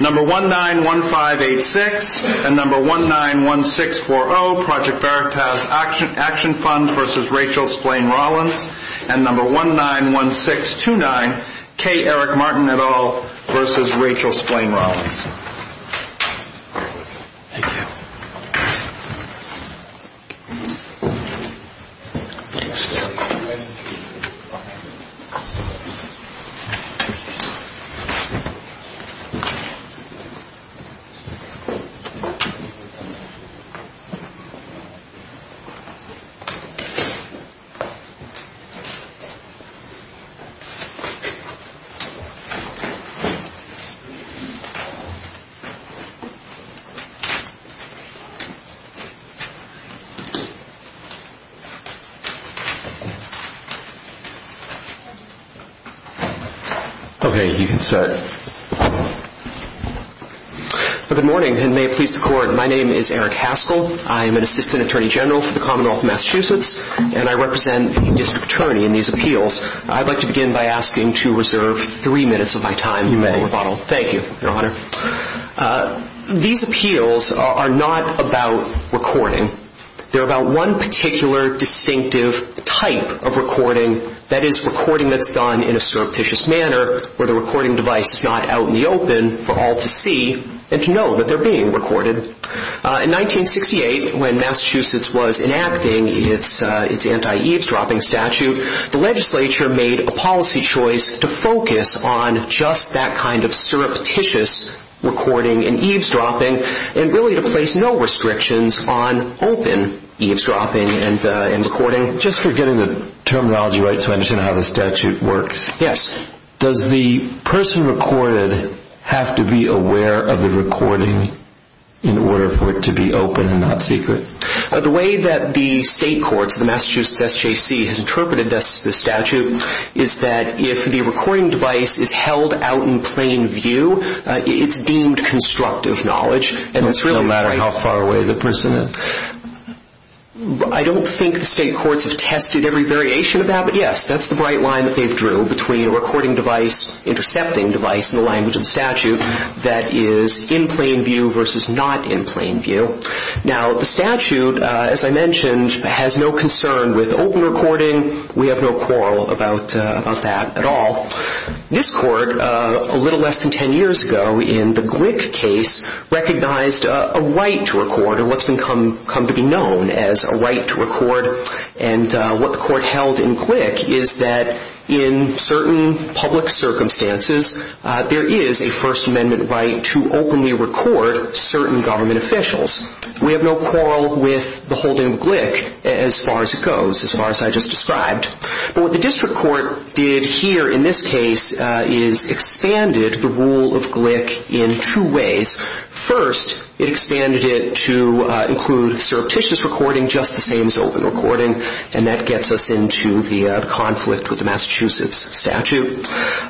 Number 191586 and number 191640, Project Veritas Action Fund v. Rachel Splane Rollins and number 191629, K. Eric Martin et al. v. Rachel Splane Rollins. Okay, you can start. Good morning, and may it please the Court, my name is Eric Haskell. I am an assistant attorney general for the Commonwealth of Massachusetts, and I represent a district attorney in these appeals. I'd like to begin by asking to reserve three minutes of my time for rebuttal. You may. Thank you, Your Honor. These appeals are not about recording. They're about one particular distinctive type of recording, that is, recording that's done in a surreptitious manner where the recording device is not out in the open for all to see and to know that they're being recorded. In 1968, when Massachusetts was enacting its anti-eavesdropping statute, the legislature made a policy choice to focus on just that kind of surreptitious recording and eavesdropping and really to place no restrictions on open eavesdropping and recording. Just for getting the terminology right so I understand how the statute works. Yes. Does the person recorded have to be aware of the recording in order for it to be open and not secret? The way that the state courts, the Massachusetts SJC, has interpreted the statute is that if the recording device is held out in plain view, it's deemed constructive knowledge. No matter how far away the person is? I don't think the state courts have tested every variation of that, but yes, that's the right line that they've drew between a recording device, intercepting device in the language of the statute that is in plain view versus not in plain view. Now, the statute, as I mentioned, has no concern with open recording. We have no quarrel about that at all. This court, a little less than 10 years ago in the Glick case, recognized a right to record or what's come to be known as a right to record and what the court held in Glick is that in certain public circumstances, there is a First Amendment right to openly record certain government officials. We have no quarrel with the holding of Glick as far as it goes, as far as I just described. But what the district court did here in this case is expanded the rule of Glick in two ways. First, it expanded it to include surreptitious recording, just the same as open recording, and that gets us into the conflict with the Massachusetts statute.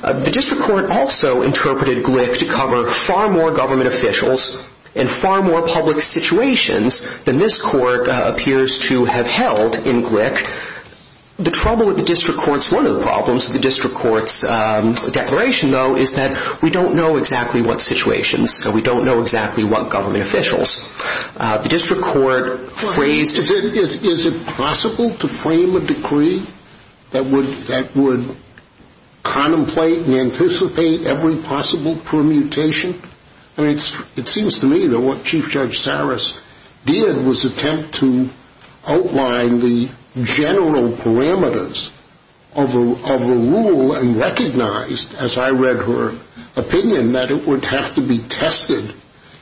The district court also interpreted Glick to cover far more government officials and far more public situations than this court appears to have held in Glick. The trouble with the district court's, one of the problems with the district court's declaration, though, is that we don't know exactly what situations, so we don't know exactly what government officials. The district court phrased... Is it possible to frame a decree that would contemplate and anticipate every possible permutation? I mean, it seems to me that what Chief Judge Saras did was attempt to outline the general parameters of a rule and recognized, as I read her opinion, that it would have to be tested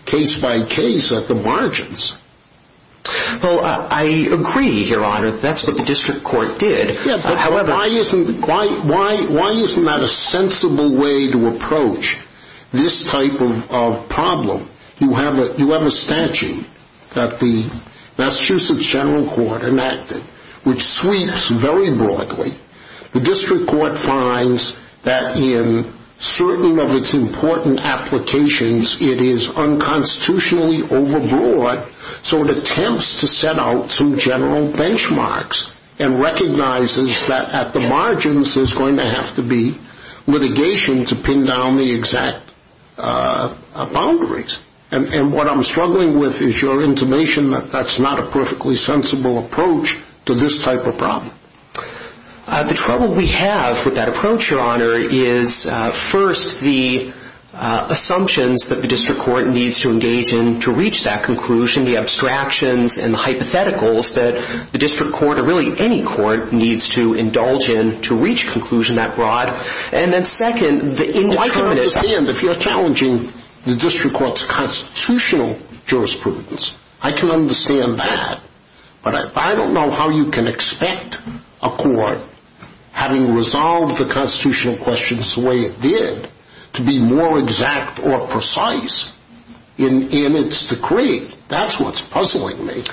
case by case at the margins. Well, I agree, Your Honor, that's what the district court did. Yeah, but why isn't that a sensible way to approach this type of problem? You have a statute that the Massachusetts General Court enacted, which sweeps very broadly. The district court finds that in certain of its important applications, it is unconstitutionally overbroad, so it attempts to set out some general benchmarks and recognizes that at the margins there's going to have to be litigation to pin down the exact boundaries. And what I'm struggling with is your intimation that that's not a perfectly sensible approach to this type of problem. The trouble we have with that approach, Your Honor, is first the assumptions that the district court needs to engage in to reach that conclusion, the abstractions and the hypotheticals that the district court, or really any court, needs to indulge in to reach conclusion that broad. And then second, the indeterminates... Well, I can understand if you're challenging the district court's constitutional jurisprudence. I can understand that. But I don't know how you can expect a court, having resolved the constitutional questions the way it did, to be more exact or precise in its decree. That's what's puzzling me.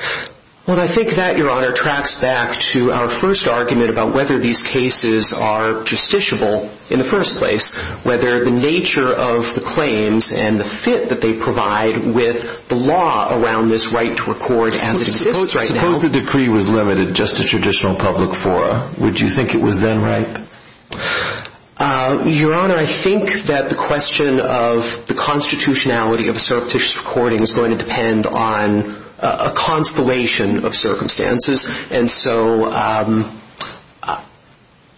Well, I think that, Your Honor, tracks back to our first argument about whether these cases are justiciable in the first place, whether the nature of the claims and the fit that they provide with the law around this right to record as it exists right now... Suppose the decree was limited just to traditional public fora. Would you think it was then right? Your Honor, I think that the question of the constitutionality of a surreptitious recording is going to depend on a constellation of circumstances. And so,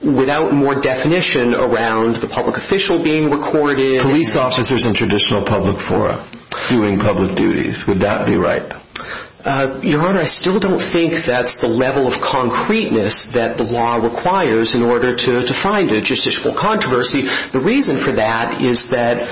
without more definition around the public official being recorded... Police officers in traditional public fora doing public duties. Would that be right? Your Honor, I still don't think that's the level of concreteness that the law requires in order to find a justiciable controversy. The reason for that is that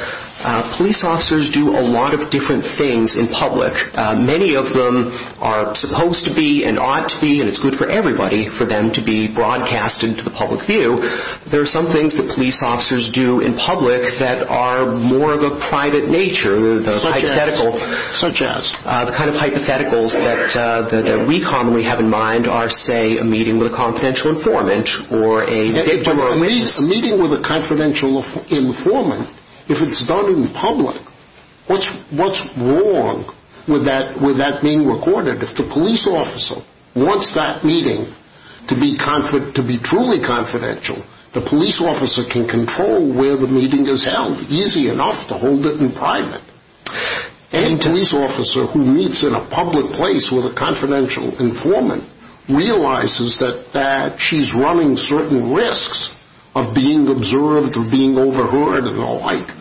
police officers do a lot of different things in public. Many of them are supposed to be and ought to be, and it's good for everybody for them to be broadcasted to the public view. There are some things that police officers do in public that are more of a private nature. Such as? The kind of hypotheticals that we commonly have in mind are, say, a meeting with a confidential informant A meeting with a confidential informant, if it's done in public, what's wrong with that being recorded? If the police officer wants that meeting to be truly confidential, the police officer can control where the meeting is held easy enough to hold it in private. Any police officer who meets in a public place with a confidential informant realizes that she's running certain risks of being observed or being overheard and the like.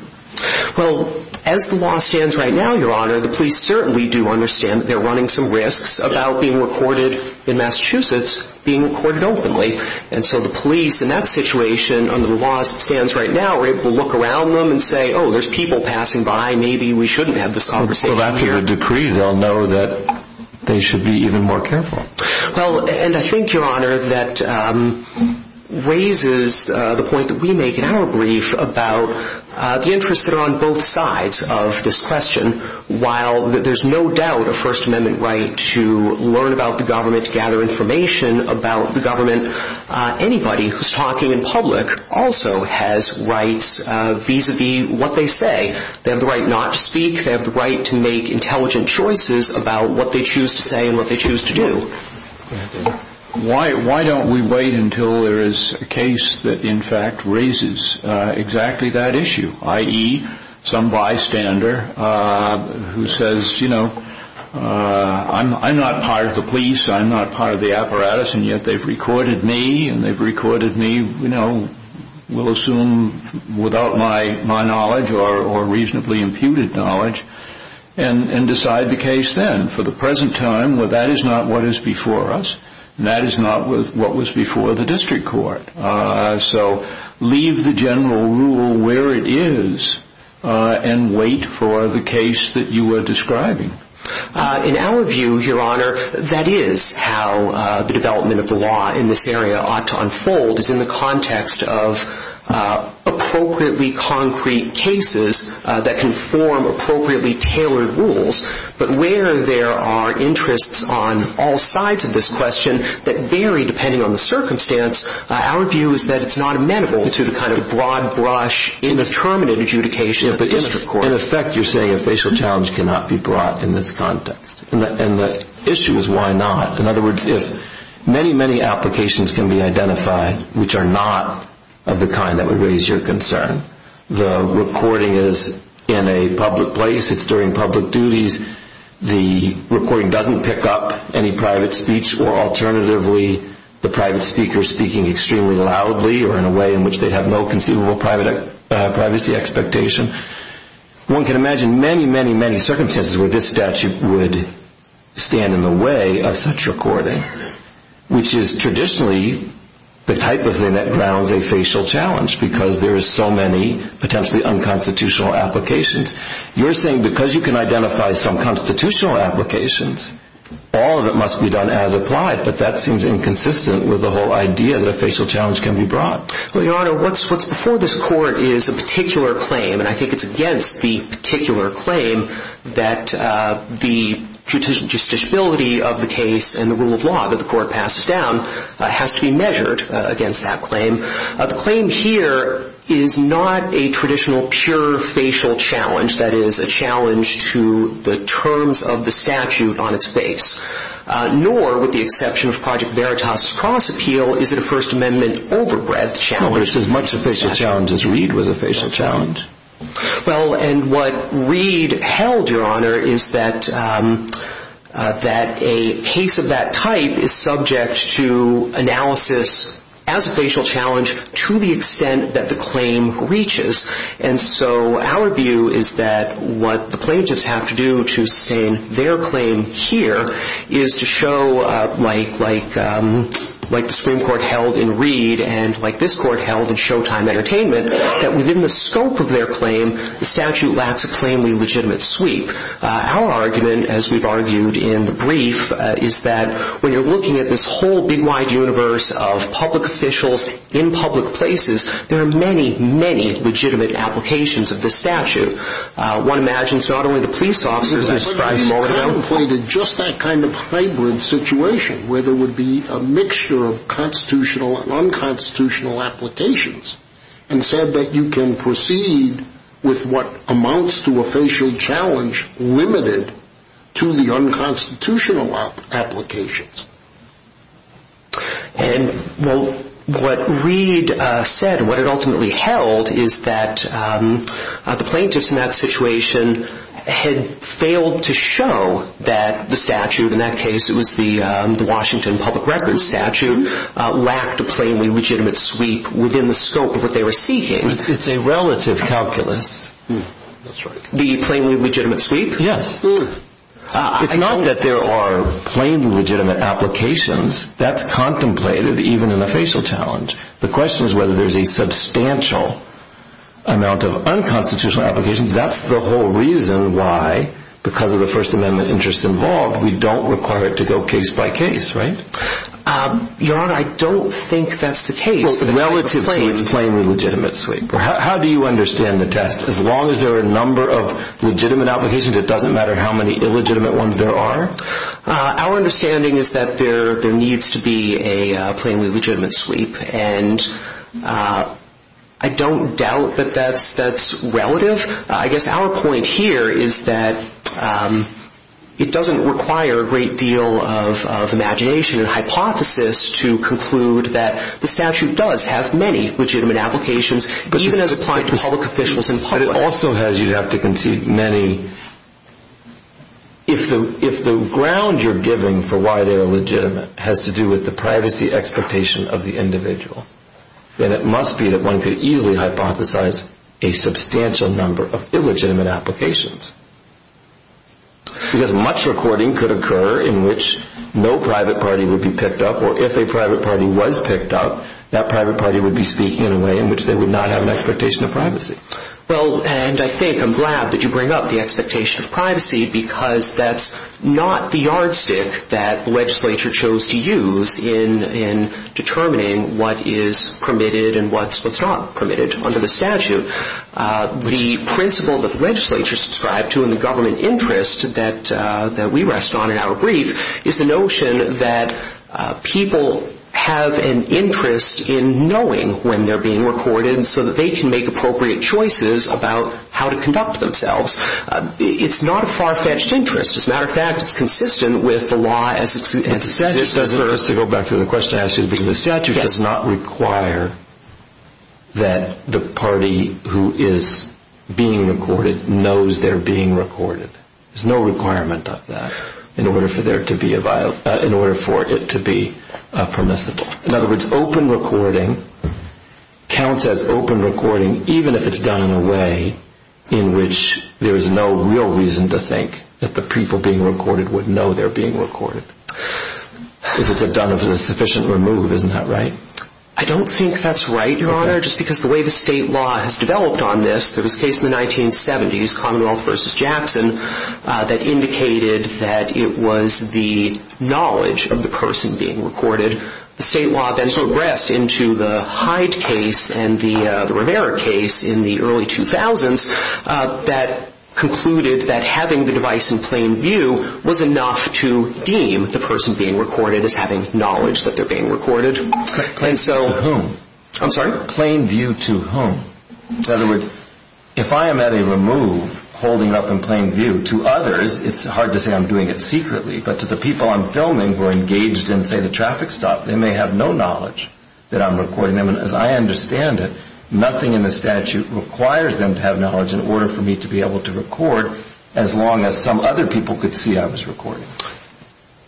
Well, as the law stands right now, Your Honor, the police certainly do understand that they're running some risks about being recorded in Massachusetts being recorded openly. And so the police, in that situation, under the law as it stands right now, are able to look around them and say, oh, there's people passing by, maybe we shouldn't have this conversation here. Well, after your decree, they'll know that they should be even more careful. Well, and I think, Your Honor, that raises the point that we make in our brief about the interests that are on both sides of this question. While there's no doubt a First Amendment right to learn about the government, to gather information about the government, anybody who's talking in public also has rights vis-à-vis what they say. They have the right not to speak. They have the right to make intelligent choices about what they choose to say and what they choose to do. Why don't we wait until there is a case that, in fact, raises exactly that issue, i.e., some bystander who says, you know, I'm not part of the police, I'm not part of the apparatus, and yet they've recorded me and they've recorded me, you know, we'll assume without my knowledge or reasonably imputed knowledge, and decide the case then. For the present time, that is not what is before us, and that is not what was before the district court. So leave the general rule where it is and wait for the case that you are describing. In our view, Your Honor, that is how the development of the law in this area ought to unfold, is in the context of appropriately concrete cases that can form appropriately tailored rules. But where there are interests on all sides of this question that vary depending on the circumstance, our view is that it's not amenable to the kind of broad brush indeterminate adjudication of the district court. In effect, you're saying a facial challenge cannot be brought in this context, and the issue is why not. In other words, if many, many applications can be identified which are not of the kind that would raise your concern, the recording is in a public place, it's during public duties, the recording doesn't pick up any private speech, or alternatively, the private speaker speaking extremely loudly or in a way in which they have no conceivable privacy expectation, one can imagine many, many, many circumstances where this statute would stand in the way of such recording, which is traditionally the type of thing that grounds a facial challenge, because there is so many potentially unconstitutional applications. You're saying because you can identify some constitutional applications, all of it must be done as applied, but that seems inconsistent with the whole idea that a facial challenge can be brought. Well, Your Honor, what's before this court is a particular claim, and I think it's against the particular claim that the justiciability of the case and the rule of law that the court passes down has to be measured against that claim. The claim here is not a traditional pure facial challenge, that is, a challenge to the terms of the statute on its face, nor, with the exception of Project Veritas' cross appeal, is it a First Amendment overbreadth challenge. Well, it's as much a facial challenge as Reed was a facial challenge. Well, and what Reed held, Your Honor, is that a case of that type is subject to analysis as a facial challenge to the extent that the claim reaches, and so our view is that what the plaintiffs have to do to sustain their claim here is to show, like the Supreme Court held in Reed and like this court held in Showtime Entertainment, that within the scope of their claim, the statute lacks a plainly legitimate sweep. Our argument, as we've argued in the brief, is that when you're looking at this whole big, wide universe of public officials in public places, there are many, many legitimate applications of this statute. One imagines it's not only the police officers that strive for it. But he contemplated just that kind of hybrid situation where there would be a mixture of constitutional and unconstitutional applications and said that you can proceed with what amounts to a facial challenge limited to the unconstitutional applications. And what Reed said, what it ultimately held, is that the plaintiffs in that situation had failed to show that the statute, in that case it was the Washington Public Records statute, lacked a plainly legitimate sweep within the scope of what they were seeking. It's a relative calculus. The plainly legitimate sweep? Yes. It's not that there are plainly legitimate applications. That's contemplated even in a facial challenge. The question is whether there's a substantial amount of unconstitutional applications. That's the whole reason why, because of the First Amendment interests involved, we don't require it to go case by case, right? Your Honor, I don't think that's the case relative to its plainly legitimate sweep. How do you understand the test? As long as there are a number of legitimate applications, it doesn't matter how many illegitimate ones there are? Our understanding is that there needs to be a plainly legitimate sweep, and I don't doubt that that's relative. I guess our point here is that it doesn't require a great deal of imagination and hypothesis to conclude that the statute does have many legitimate applications, even as applied to public officials in public. But it also has, you'd have to concede, many. If the ground you're giving for why they are legitimate has to do with the privacy expectation of the individual, then it must be that one could easily hypothesize a substantial number of illegitimate applications. Because much recording could occur in which no private party would be picked up, or if a private party was picked up, that private party would be speaking in a way in which they would not have an expectation of privacy. Well, and I think I'm glad that you bring up the expectation of privacy, because that's not the yardstick that the legislature chose to use in determining what is permitted and what's not permitted under the statute. The principle that the legislature subscribed to in the government interest that we rest on in our brief is the notion that people have an interest in knowing when they're being recorded so that they can make appropriate choices about how to conduct themselves. It's not a far-fetched interest. As a matter of fact, it's consistent with the law as it stands. To go back to the question I asked you, the statute does not require that the party who is being recorded knows they're being recorded. There's no requirement of that in order for it to be permissible. In other words, open recording counts as open recording even if it's done in a way in which there is no real reason to think that the people being recorded would know they're being recorded. If it's done sufficiently removed, isn't that right? I don't think that's right, Your Honor, just because the way the state law has developed on this, there was a case in the 1970s, Commonwealth v. Jackson, that indicated that it was the knowledge of the person being recorded. The state law then progressed into the Hyde case and the Rivera case in the early 2000s that concluded that having the device in plain view was enough to deem the person being recorded as having knowledge that they're being recorded. Plain view to whom? I'm sorry? Plain view to whom? In other words, if I am at a remove holding up in plain view to others, it's hard to say I'm doing it secretly, but to the people I'm filming who are engaged in, say, the traffic stop, they may have no knowledge that I'm recording them. As I understand it, nothing in the statute requires them to have knowledge in order for me to be able to record as long as some other people could see I was recording.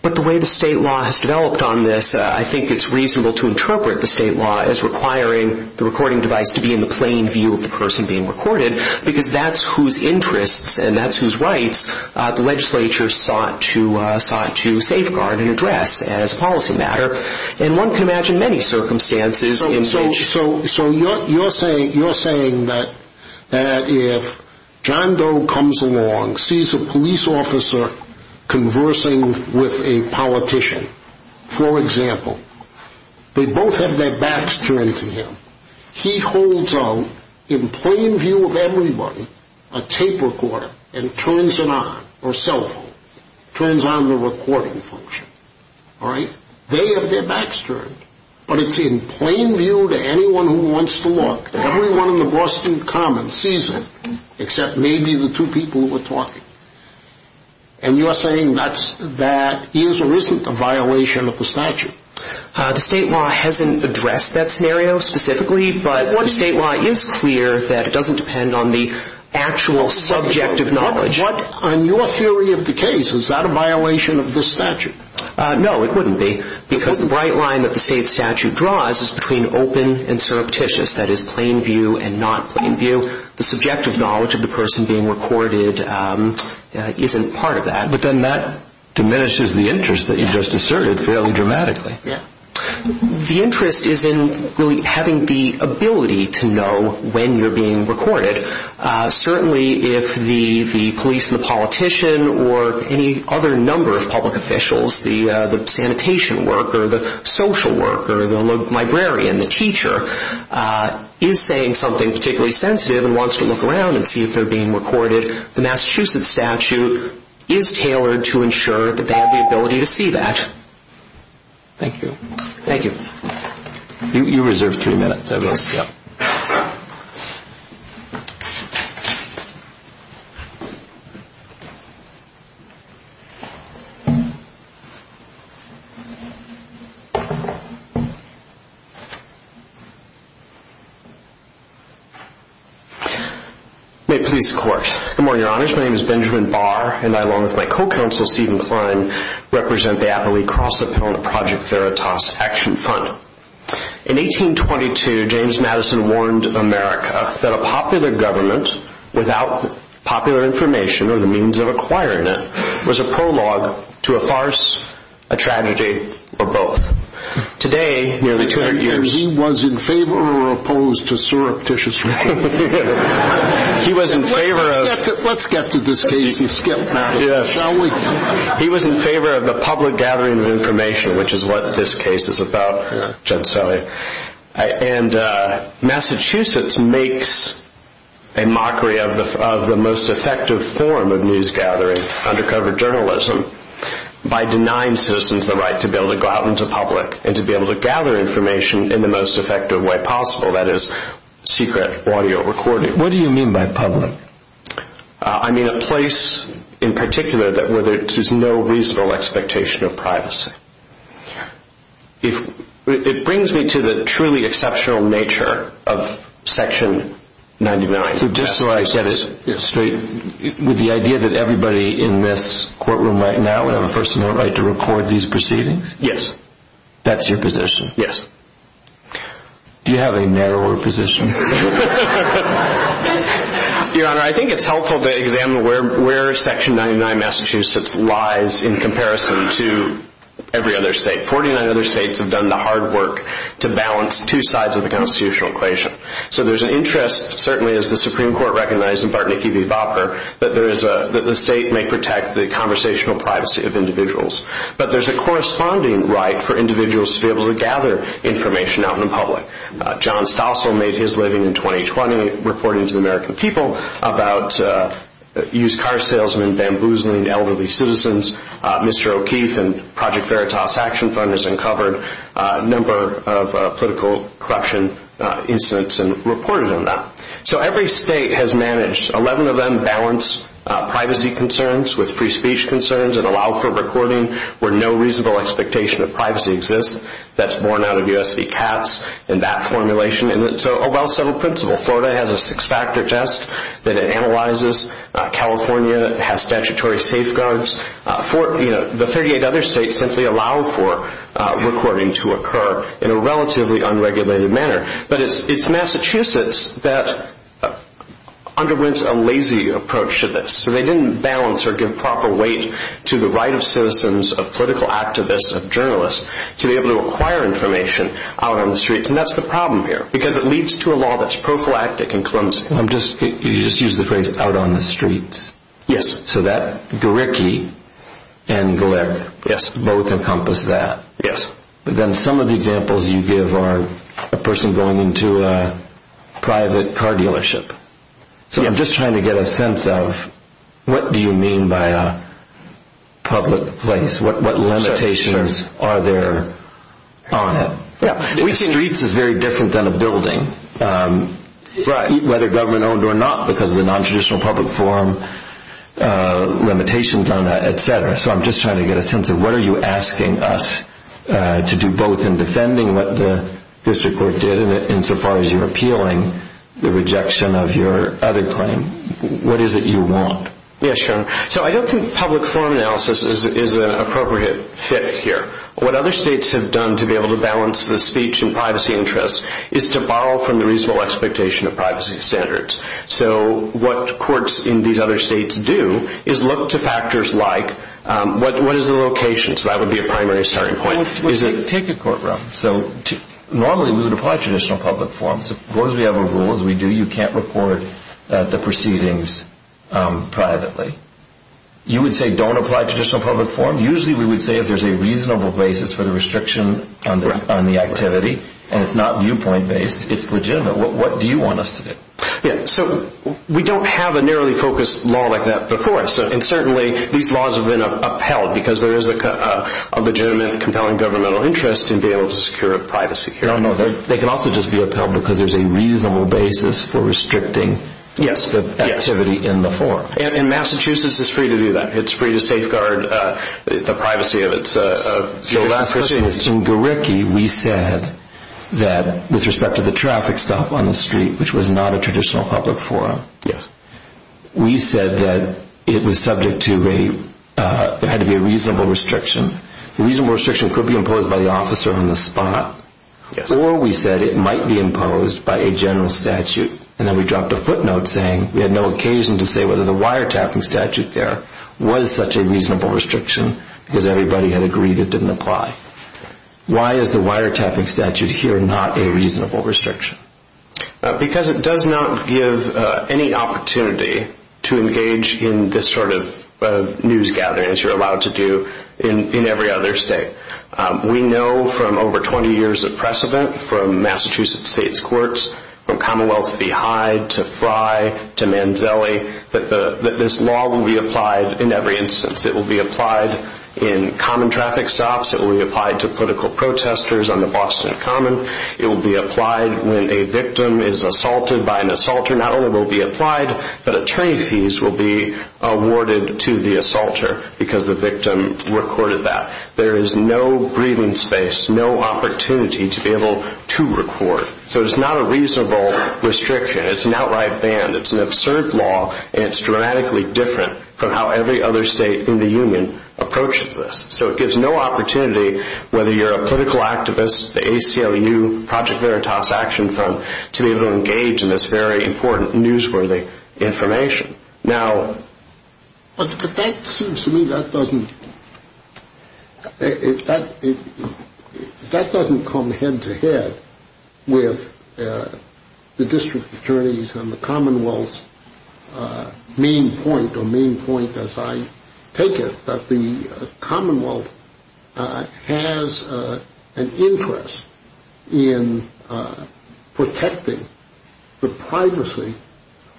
But the way the state law has developed on this, I think it's reasonable to interpret the state law as requiring the recording device to be in the plain view of the person being recorded because that's whose interests and that's whose rights the legislature sought to safeguard and address as a policy matter. And one can imagine many circumstances in which... So you're saying that if John Doe comes along, sees a police officer conversing with a politician, for example, they both have their backs turned to him. He holds out in plain view of everybody a tape recorder and turns it on, or cell phone, turns on the recording function. All right? They have their backs turned, but it's in plain view to anyone who wants to look. Everyone in the Boston Commons sees it except maybe the two people who are talking. And you are saying that is or isn't a violation of the statute? The state law hasn't addressed that scenario specifically, but the state law is clear that it doesn't depend on the actual subjective knowledge. But on your theory of the case, is that a violation of the statute? No, it wouldn't be because the bright line that the state statute draws is between open and surreptitious, that is, plain view and not plain view. So the subjective knowledge of the person being recorded isn't part of that. But then that diminishes the interest that you just asserted fairly dramatically. Yeah. The interest is in really having the ability to know when you're being recorded. Certainly if the police and the politician or any other number of public officials, the sanitation worker, the social worker, the librarian, the teacher, is saying something particularly sensitive and wants to look around and see if they're being recorded, the Massachusetts statute is tailored to ensure that they have the ability to see that. Thank you. Thank you. You reserve three minutes. I will. Thank you. May it please the Court. Good morning, Your Honors. My name is Benjamin Barr, and I, along with my co-counsel, Stephen Klein, represent the appellee cross-appellant Project Veritas Action Fund. In 1822, James Madison warned America that a popular government, without popular information or the means of acquiring it, was a prologue to a farce, a tragedy, or both. Today, nearly 200 years... He was in favor or opposed to surreptitious reporting. He was in favor of... Let's get to this case and skip Madison, shall we? He was in favor of the public gathering of information, which is what this case is about, and Massachusetts makes a mockery of the most effective form of news gathering, undercover journalism, by denying citizens the right to be able to go out into public and to be able to gather information in the most effective way possible, that is, secret audio recording. What do you mean by public? I mean a place, in particular, where there is no reasonable expectation of privacy. It brings me to the truly exceptional nature of Section 99. So just so I get it straight, the idea that everybody in this courtroom right now would have a personal right to record these proceedings? Yes. That's your position? Yes. Do you have a narrower position? Your Honor, I think it's helpful to examine where Section 99 Massachusetts lies in comparison to every other state. Forty-nine other states have done the hard work to balance two sides of the constitutional equation. So there's an interest, certainly as the Supreme Court recognized in Bartnicki v. Vopper, that the state may protect the conversational privacy of individuals. But there's a corresponding right for individuals to be able to gather information out in the public. John Stossel made his living in 2020 reporting to the American people about used car salesmen, bamboozling elderly citizens. Mr. O'Keefe and Project Veritas action funders uncovered a number of political corruption incidents and reported on that. So every state has managed. Eleven of them balance privacy concerns with free speech concerns and allow for recording where no reasonable expectation of privacy exists. That's borne out of U.S. v. Katz in that formulation. And it's a well-settled principle. Florida has a six-factor test that it analyzes. California has statutory safeguards. The 38 other states simply allow for recording to occur in a relatively unregulated manner. But it's Massachusetts that underwent a lazy approach to this. So they didn't balance or give proper weight to the right of citizens, of political activists, of journalists, to be able to acquire information out on the streets. And that's the problem here, because it leads to a law that's prophylactic and clumsy. You just used the phrase, out on the streets. Yes. So that, Garricky and Galeck, both encompass that. Yes. But then some of the examples you give are a person going into a private car dealership. So I'm just trying to get a sense of what do you mean by a public place? What limitations are there on it? Streets is very different than a building, whether government-owned or not, because of the nontraditional public forum limitations on that, et cetera. So I'm just trying to get a sense of what are you asking us to do, both in defending what the district court did insofar as you're appealing the rejection of your other claim? What is it you want? Yes, Sharon. So I don't think public forum analysis is an appropriate fit here. What other states have done to be able to balance the speech and privacy interests is to borrow from the reasonable expectation of privacy standards. So what courts in these other states do is look to factors like what is the location? So that would be a primary starting point. Take a courtroom. Normally we would apply traditional public forums. As long as we have our rules, we do. You can't report the proceedings privately. You would say don't apply traditional public forum. Usually we would say if there's a reasonable basis for the restriction on the activity and it's not viewpoint-based, it's legitimate. What do you want us to do? So we don't have a narrowly focused law like that before, and certainly these laws have been upheld because there is a legitimate compelling governmental interest in being able to secure a privacy hearing. They can also just be upheld because there's a reasonable basis for restricting the activity in the forum. And Massachusetts is free to do that. It's free to safeguard the privacy of its citizens. So last Christmas in Gariki, we said that with respect to the traffic stop on the street, which was not a traditional public forum, we said that it was subject to a reasonable restriction. The reasonable restriction could be imposed by the officer on the spot, or we said it might be imposed by a general statute. And then we dropped a footnote saying we had no occasion to say whether the wiretapping statute there was such a reasonable restriction because everybody had agreed it didn't apply. Why is the wiretapping statute here not a reasonable restriction? Because it does not give any opportunity to engage in this sort of news gathering, as you're allowed to do in every other state. We know from over 20 years of precedent from Massachusetts state's courts, from Commonwealth v. Hyde to Frye to Manzelli, that this law will be applied in every instance. It will be applied in common traffic stops. It will be applied to political protesters on the Boston Common. It will be applied when a victim is assaulted by an assaulter. This law not only will be applied, but attorney fees will be awarded to the assaulter because the victim recorded that. There is no breathing space, no opportunity to be able to record. So it's not a reasonable restriction. It's an outright ban. It's an absurd law, and it's dramatically different from how every other state in the union approaches this. So it gives no opportunity, whether you're a political activist, the ACLU, Project Veritas Action Fund, to be able to engage in this very important newsworthy information. Now, that seems to me that doesn't come head-to-head with the district attorneys and the Commonwealth's main point, or main point as I take it, that the Commonwealth has an interest in protecting the privacy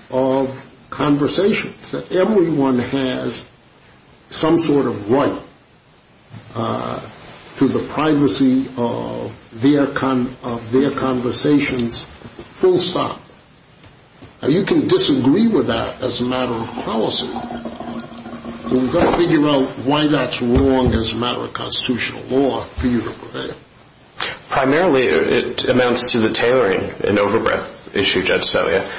of conversations, that everyone has some sort of right to the privacy of their conversations full stop. Now, you can disagree with that as a matter of policy. We've got to figure out why that's wrong as a matter of constitutional law for you to prevail. Primarily, it amounts to the tailoring, an over-breath issue, Judge Celia.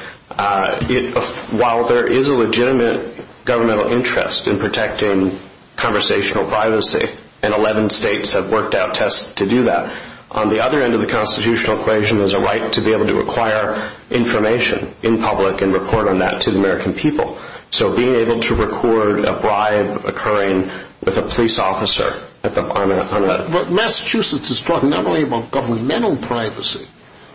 While there is a legitimate governmental interest in protecting conversational privacy, and 11 states have worked out tests to do that, on the other end of the constitutional equation there's a right to be able to acquire information in public and report on that to the American people. So being able to record a bribe occurring with a police officer on that. But Massachusetts is talking not only about governmental privacy,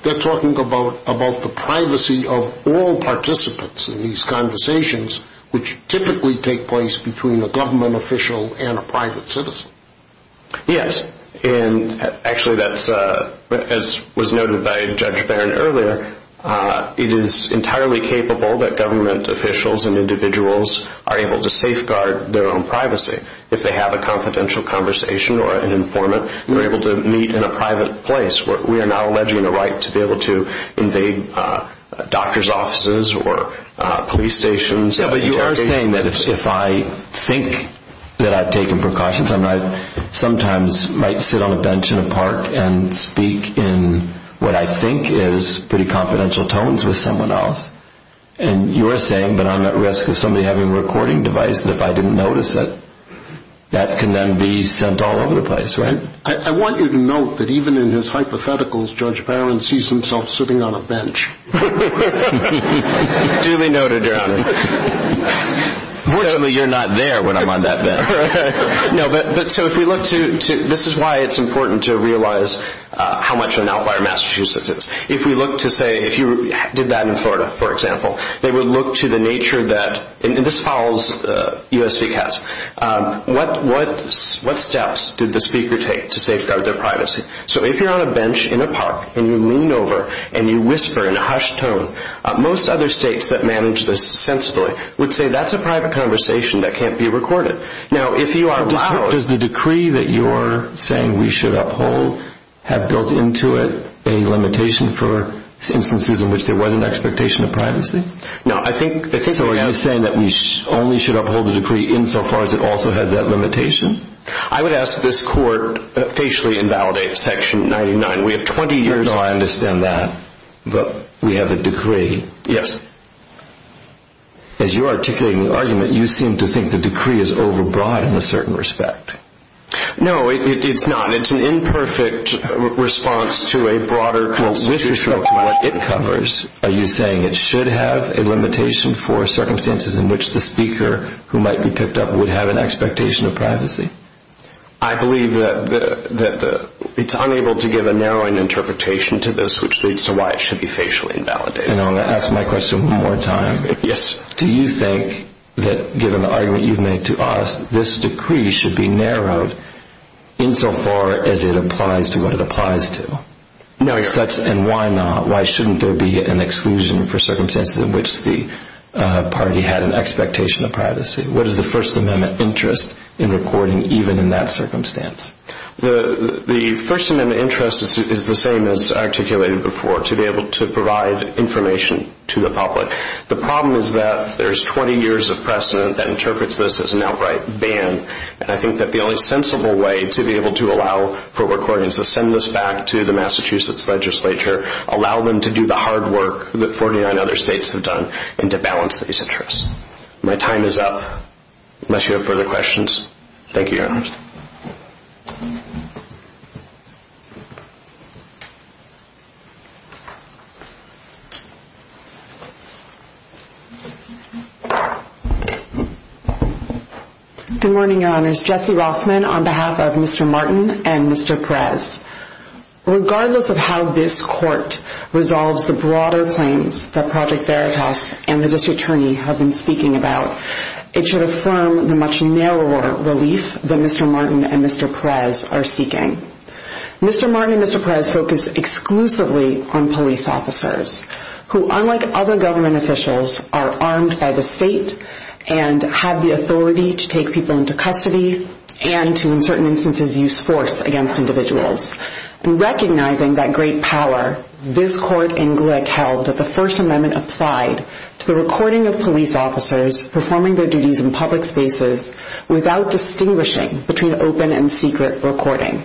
they're talking about the privacy of all participants in these conversations, which typically take place between a government official and a private citizen. Yes, and actually that's, as was noted by Judge Barron earlier, it is entirely capable that government officials and individuals are able to safeguard their own privacy. If they have a confidential conversation or an informant, they're able to meet in a private place. We are now alleging the right to be able to invade doctor's offices or police stations. Yeah, but you are saying that if I think that I've taken precautions, I sometimes might sit on a bench in a park and speak in what I think is pretty confidential tones with someone else, and you're saying that I'm at risk of somebody having a recording device and if I didn't notice it, that can then be sent all over the place, right? I want you to note that even in his hypotheticals, Judge Barron sees himself sitting on a bench. Duly noted, Your Honor. Fortunately, you're not there when I'm on that bench. No, but so if we look to, this is why it's important to realize how much an outlier Massachusetts is. If we look to say, if you did that in Florida, for example, they would look to the nature that, and this follows USVCAS, what steps did the speaker take to safeguard their privacy? So if you're on a bench in a park and you lean over and you whisper in a hushed tone, most other states that manage this sensibly would say that's a private conversation that can't be recorded. Now, if you are allowed... Does the decree that you're saying we should uphold have built into it a limitation for instances in which there was an expectation of privacy? No, I think... So you're saying that we only should uphold the decree insofar as it also has that limitation? I would ask this court facially invalidate section 99. We have 20 years... No, I understand that, but we have a decree. Yes. As you're articulating the argument, you seem to think the decree is overbroad in a certain respect. No, it's not. It's an imperfect response to a broader... Well, with respect to what it covers, are you saying it should have a limitation for circumstances in which the speaker who might be picked up would have an expectation of privacy? I believe that it's unable to give a narrowing interpretation to this which leads to why it should be facially invalidated. And I'll ask my question one more time. Yes. Do you think that, given the argument you've made to us, this decree should be narrowed insofar as it applies to what it applies to? No, I don't. And why not? Why shouldn't there be an exclusion for circumstances in which the party had an expectation of privacy? What is the First Amendment interest in recording even in that circumstance? The First Amendment interest is the same as articulated before, to be able to provide information to the public. The problem is that there's 20 years of precedent that interprets this as an outright ban, and I think that the only sensible way to be able to allow for recordings to send this back to the Massachusetts legislature, allow them to do the hard work that 49 other states have done, and to balance these interests. My time is up, unless you have further questions. Thank you, Your Honor. Good morning, Your Honors. Jessie Rossman on behalf of Mr. Martin and Mr. Perez. Regardless of how this Court resolves the broader claims that Project Veritas and the District Attorney have been speaking about, it should affirm the much narrower relief that Mr. Martin and Mr. Perez are seeking. Mr. Martin and Mr. Perez focus exclusively on police officers, who, unlike other government officials, are armed by the state and have the authority to take people into custody and to, in certain instances, use force against individuals. Recognizing that great power, this Court in Glick held that the First Amendment applied to the recording of police officers performing their duties in public spaces without distinguishing between open and secret recording.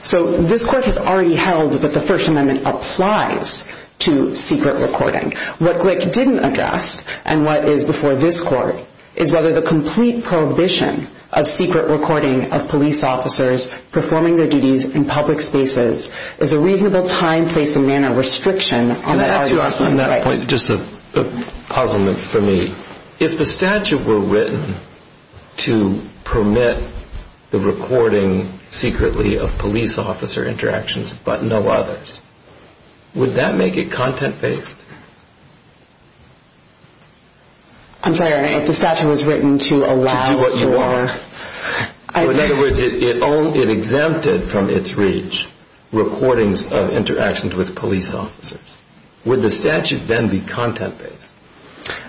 So this Court has already held that the First Amendment applies to secret recording. What Glick didn't address, and what is before this Court, is whether the complete prohibition of secret recording of police officers performing their duties in public spaces is a reasonable time, place, and manner restriction on the argument of human rights. Can I ask you a question on that point? Just a puzzlement for me. If the statute were written to permit the recording secretly of police officer interactions but no others, would that make it content-based? I'm sorry. If the statute was written to allow for... To do what you want. In other words, it exempted from its reach recordings of interactions with police officers. Would the statute then be content-based?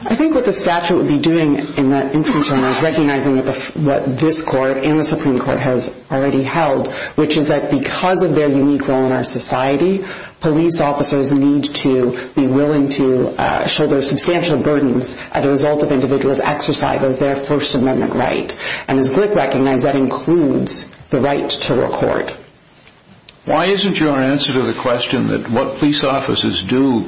I think what the statute would be doing in that instance is recognizing what this Court and the Supreme Court has already held, which is that because of their unique role in our society, police officers need to be willing to shoulder substantial burdens as a result of individuals' exercise of their First Amendment right. And as Glick recognized, that includes the right to record. Why isn't your answer to the question that what police officers do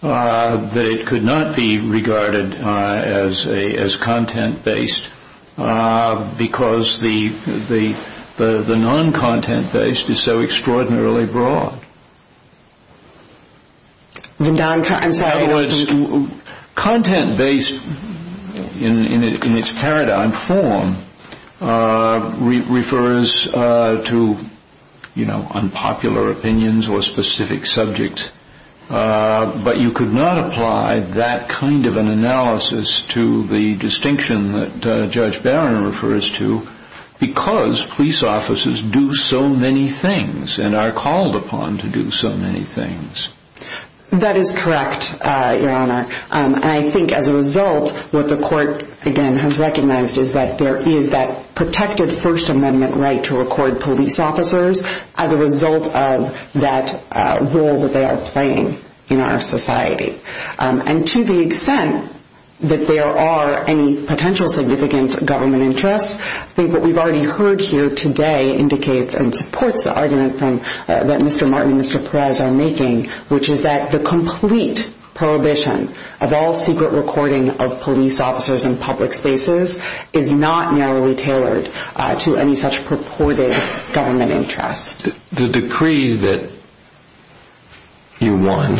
that it could not be regarded as content-based because the non-content-based is so extraordinarily broad? I'm sorry. Content-based in its paradigm form refers to unpopular opinions or specific subjects, but you could not apply that kind of an analysis to the distinction that Judge Barron refers to because police officers do so many things and are called upon to do so many things. That is correct, Your Honor. And I think as a result, what the Court, again, has recognized is that there is that protected First Amendment right to record police officers as a result of that role that they are playing in our society. And to the extent that there are any potential significant government interests, I think what we've already heard here today indicates and supports the argument that Mr. Martin and Mr. Perez are making, which is that the complete prohibition of all secret recording of police officers in public spaces is not narrowly tailored to any such purported government interest. The decree that you won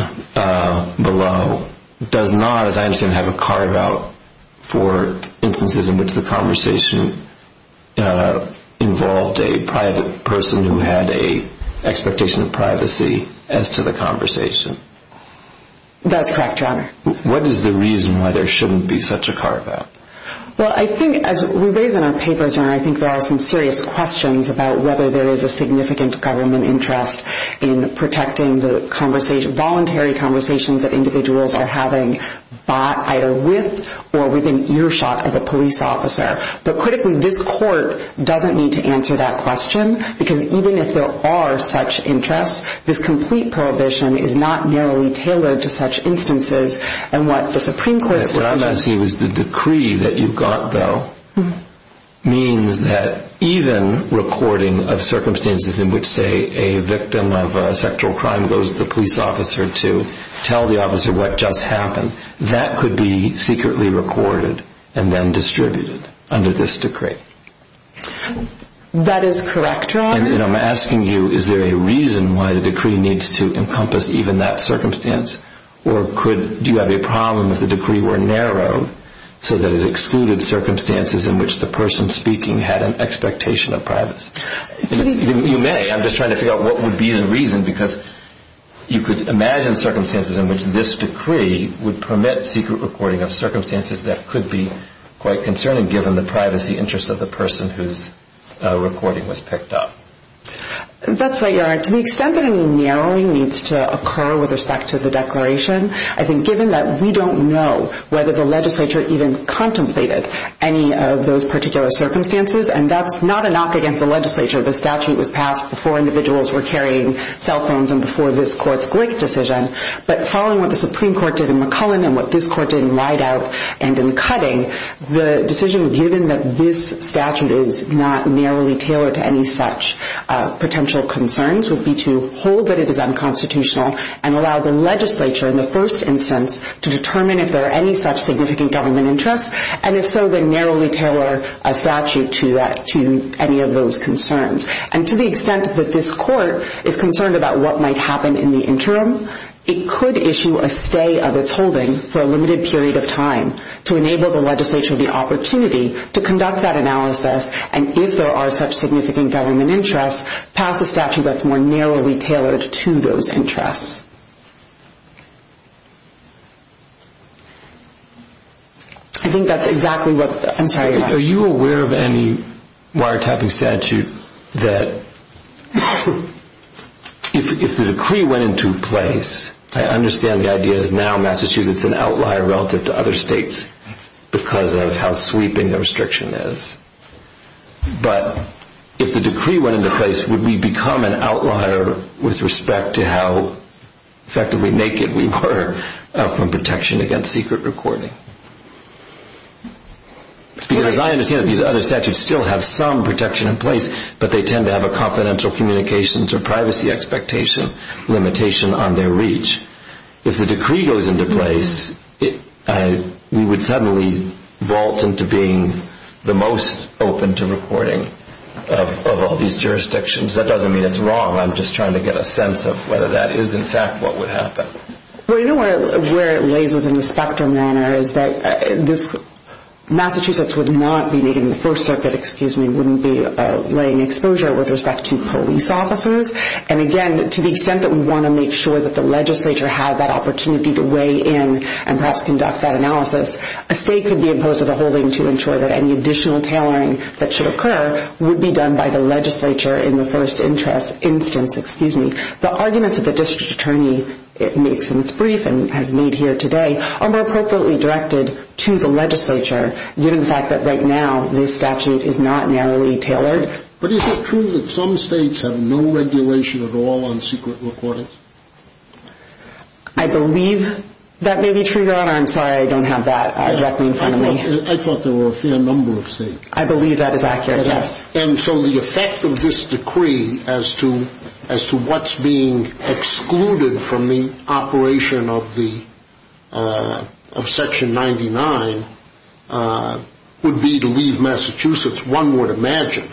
below does not, as I understand, have a carve-out for instances in which the conversation involved a private person who had an expectation of privacy as to the conversation. That's correct, Your Honor. What is the reason why there shouldn't be such a carve-out? Well, I think as we raise in our papers, Your Honor, I think there are some serious questions about whether there is a significant government interest in protecting the voluntary conversations that individuals are having either with or with an earshot of a police officer. But critically, this Court doesn't need to answer that question, because even if there are such interests, this complete prohibition is not narrowly tailored to such instances. And what the Supreme Court's decision— What I'm not seeing is the decree that you've got, though, means that even recording of circumstances in which, say, a victim of a sexual crime goes to the police officer to tell the officer what just happened, that could be secretly recorded and then distributed under this decree. That is correct, Your Honor. And I'm asking you, is there a reason why the decree needs to encompass even that circumstance? Or do you have a problem if the decree were narrowed so that it excluded circumstances in which the person speaking had an expectation of privacy? You may. I'm just trying to figure out what would be the reason, because you could imagine circumstances in which this decree would permit secret recording of circumstances that could be quite concerning, given the privacy interests of the person whose recording was picked up. That's right, Your Honor. To the extent that any narrowing needs to occur with respect to the declaration, I think given that we don't know whether the legislature even contemplated any of those particular circumstances, and that's not a knock against the legislature. The statute was passed before individuals were carrying cell phones and before this Court's Glick decision. But following what the Supreme Court did in McCullen and what this Court did in Rideout and in Cutting, the decision given that this statute is not narrowly tailored to any such potential concerns would be to hold that it is unconstitutional and allow the legislature, in the first instance, to determine if there are any such significant government interests, and if so, then narrowly tailor a statute to any of those concerns. And to the extent that this Court is concerned about what might happen in the interim, it could issue a stay of its holding for a limited period of time to enable the legislature the opportunity to conduct that analysis and, if there are such significant government interests, pass a statute that's more narrowly tailored to those interests. I think that's exactly what... I'm sorry. Are you aware of any wiretapping statute that, if the decree went into place, I understand the idea is now Massachusetts is an outlier relative to other states because of how sweeping the restriction is, but if the decree went into place, would we become an outlier with respect to how effectively naked we were from protection against secret recording? Because I understand that these other statutes still have some protection in place, but they tend to have a confidential communications or privacy expectation limitation on their reach. If the decree goes into place, we would suddenly vault into being the most open to recording of all these jurisdictions. That doesn't mean it's wrong. I'm just trying to get a sense of whether that is, in fact, what would happen. Well, you know where it lays within the spectrum, Anna, is that Massachusetts would not be naked in the First Circuit, wouldn't be laying exposure with respect to police officers, and, again, to the extent that we want to make sure that the legislature has that opportunity to weigh in and perhaps conduct that analysis, a stay could be imposed with a holding to ensure that any additional tailoring that should occur would be done by the legislature in the first instance. The arguments that the district attorney makes in its brief and has made here today are more appropriately directed to the legislature, given the fact that right now this statute is not narrowly tailored. But is it true that some states have no regulation at all on secret recordings? I believe that may be true, Your Honor. I'm sorry, I don't have that directly in front of me. I thought there were a fair number of states. I believe that is accurate, yes. And so the effect of this decree as to what's being excluded from the operation of Section 99 would be to leave Massachusetts, one would imagine,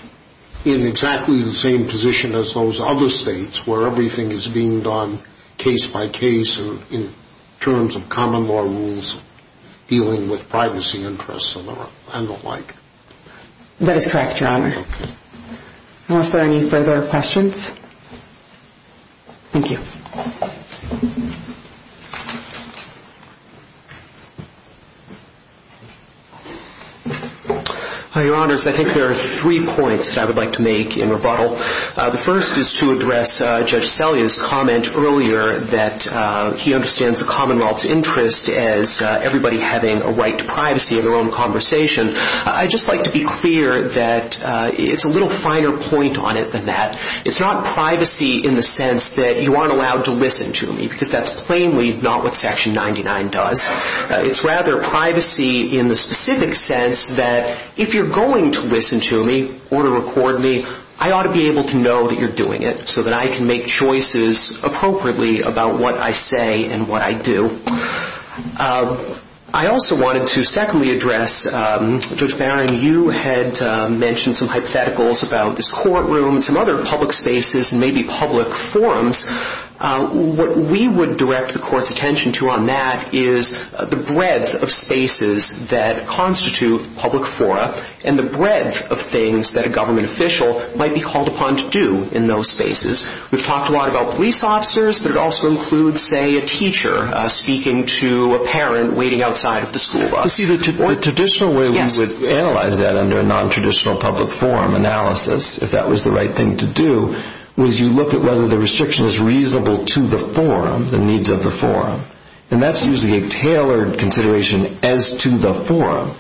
in exactly the same position as those other states where everything is being done case by case in terms of common law rules dealing with privacy interests and the like. That is correct, Your Honor. Okay. Are there any further questions? Thank you. Your Honors, I think there are three points that I would like to make in rebuttal. The first is to address Judge Sellea's comment earlier that he understands the Commonwealth's interest as everybody having a right to privacy in their own conversation. I'd just like to be clear that it's a little finer point on it than that. It's not privacy in the sense that you aren't allowed to listen to me because that's plainly not what Section 99 does. It's rather privacy in the specific sense that if you're going to listen to me or to record me, I ought to be able to know that you're doing it so that I can make choices appropriately about what I say and what I do. I also wanted to secondly address, Judge Barron, you had mentioned some hypotheticals about this courtroom and some other public spaces and maybe public forums. What we would direct the Court's attention to on that is the breadth of spaces that constitute public fora and the breadth of things that a government official might be called upon to do in those spaces. We've talked a lot about police officers, but it also includes, say, a teacher speaking to a parent waiting outside of the school bus. You see, the traditional way we would analyze that under a nontraditional public forum analysis, if that was the right thing to do, was you look at whether the restriction is reasonable to the forum, the needs of the forum. And that's usually a tailored consideration as to the forum.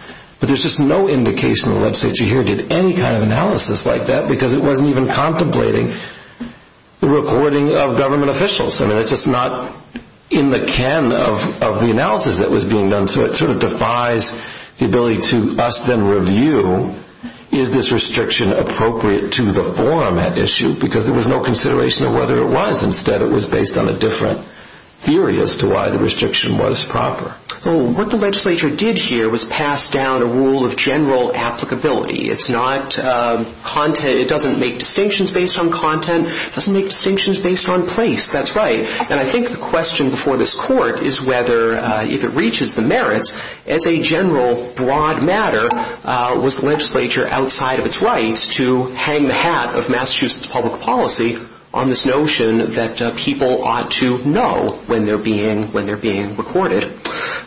But there's just no indication the legislature here did any kind of analysis like that because it wasn't even contemplating the recording of government officials. I mean, it's just not in the can of the analysis that was being done. So it sort of defies the ability to us then review, is this restriction appropriate to the forum at issue? Because there was no consideration of whether it was. Instead, it was based on a different theory as to why the restriction was proper. What the legislature did here was pass down a rule of general applicability. It's not content. It doesn't make distinctions based on content. It doesn't make distinctions based on place. That's right. And I think the question before this court is whether, if it reaches the merits, as a general broad matter, was the legislature outside of its rights to hang the hat of Massachusetts public policy on this notion that people ought to know when they're being recorded.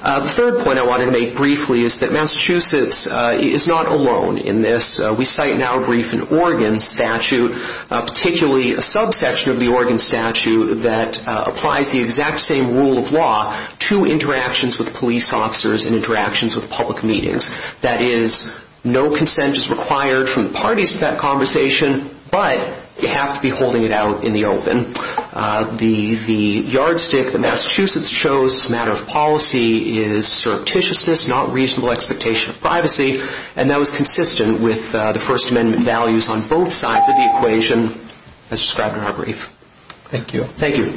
The third point I want to make briefly is that Massachusetts is not alone in this. We cite now a brief in Oregon statute, particularly a subsection of the Oregon statute that applies the exact same rule of law to interactions with police officers and interactions with public meetings. That is, no consent is required from the parties to that conversation, but you have to be holding it out in the open. The yardstick that Massachusetts chose as a matter of policy is surreptitiousness, not reasonable expectation of privacy, and that was consistent with the First Amendment values on both sides of the equation as described in our brief. Thank you. Thank you.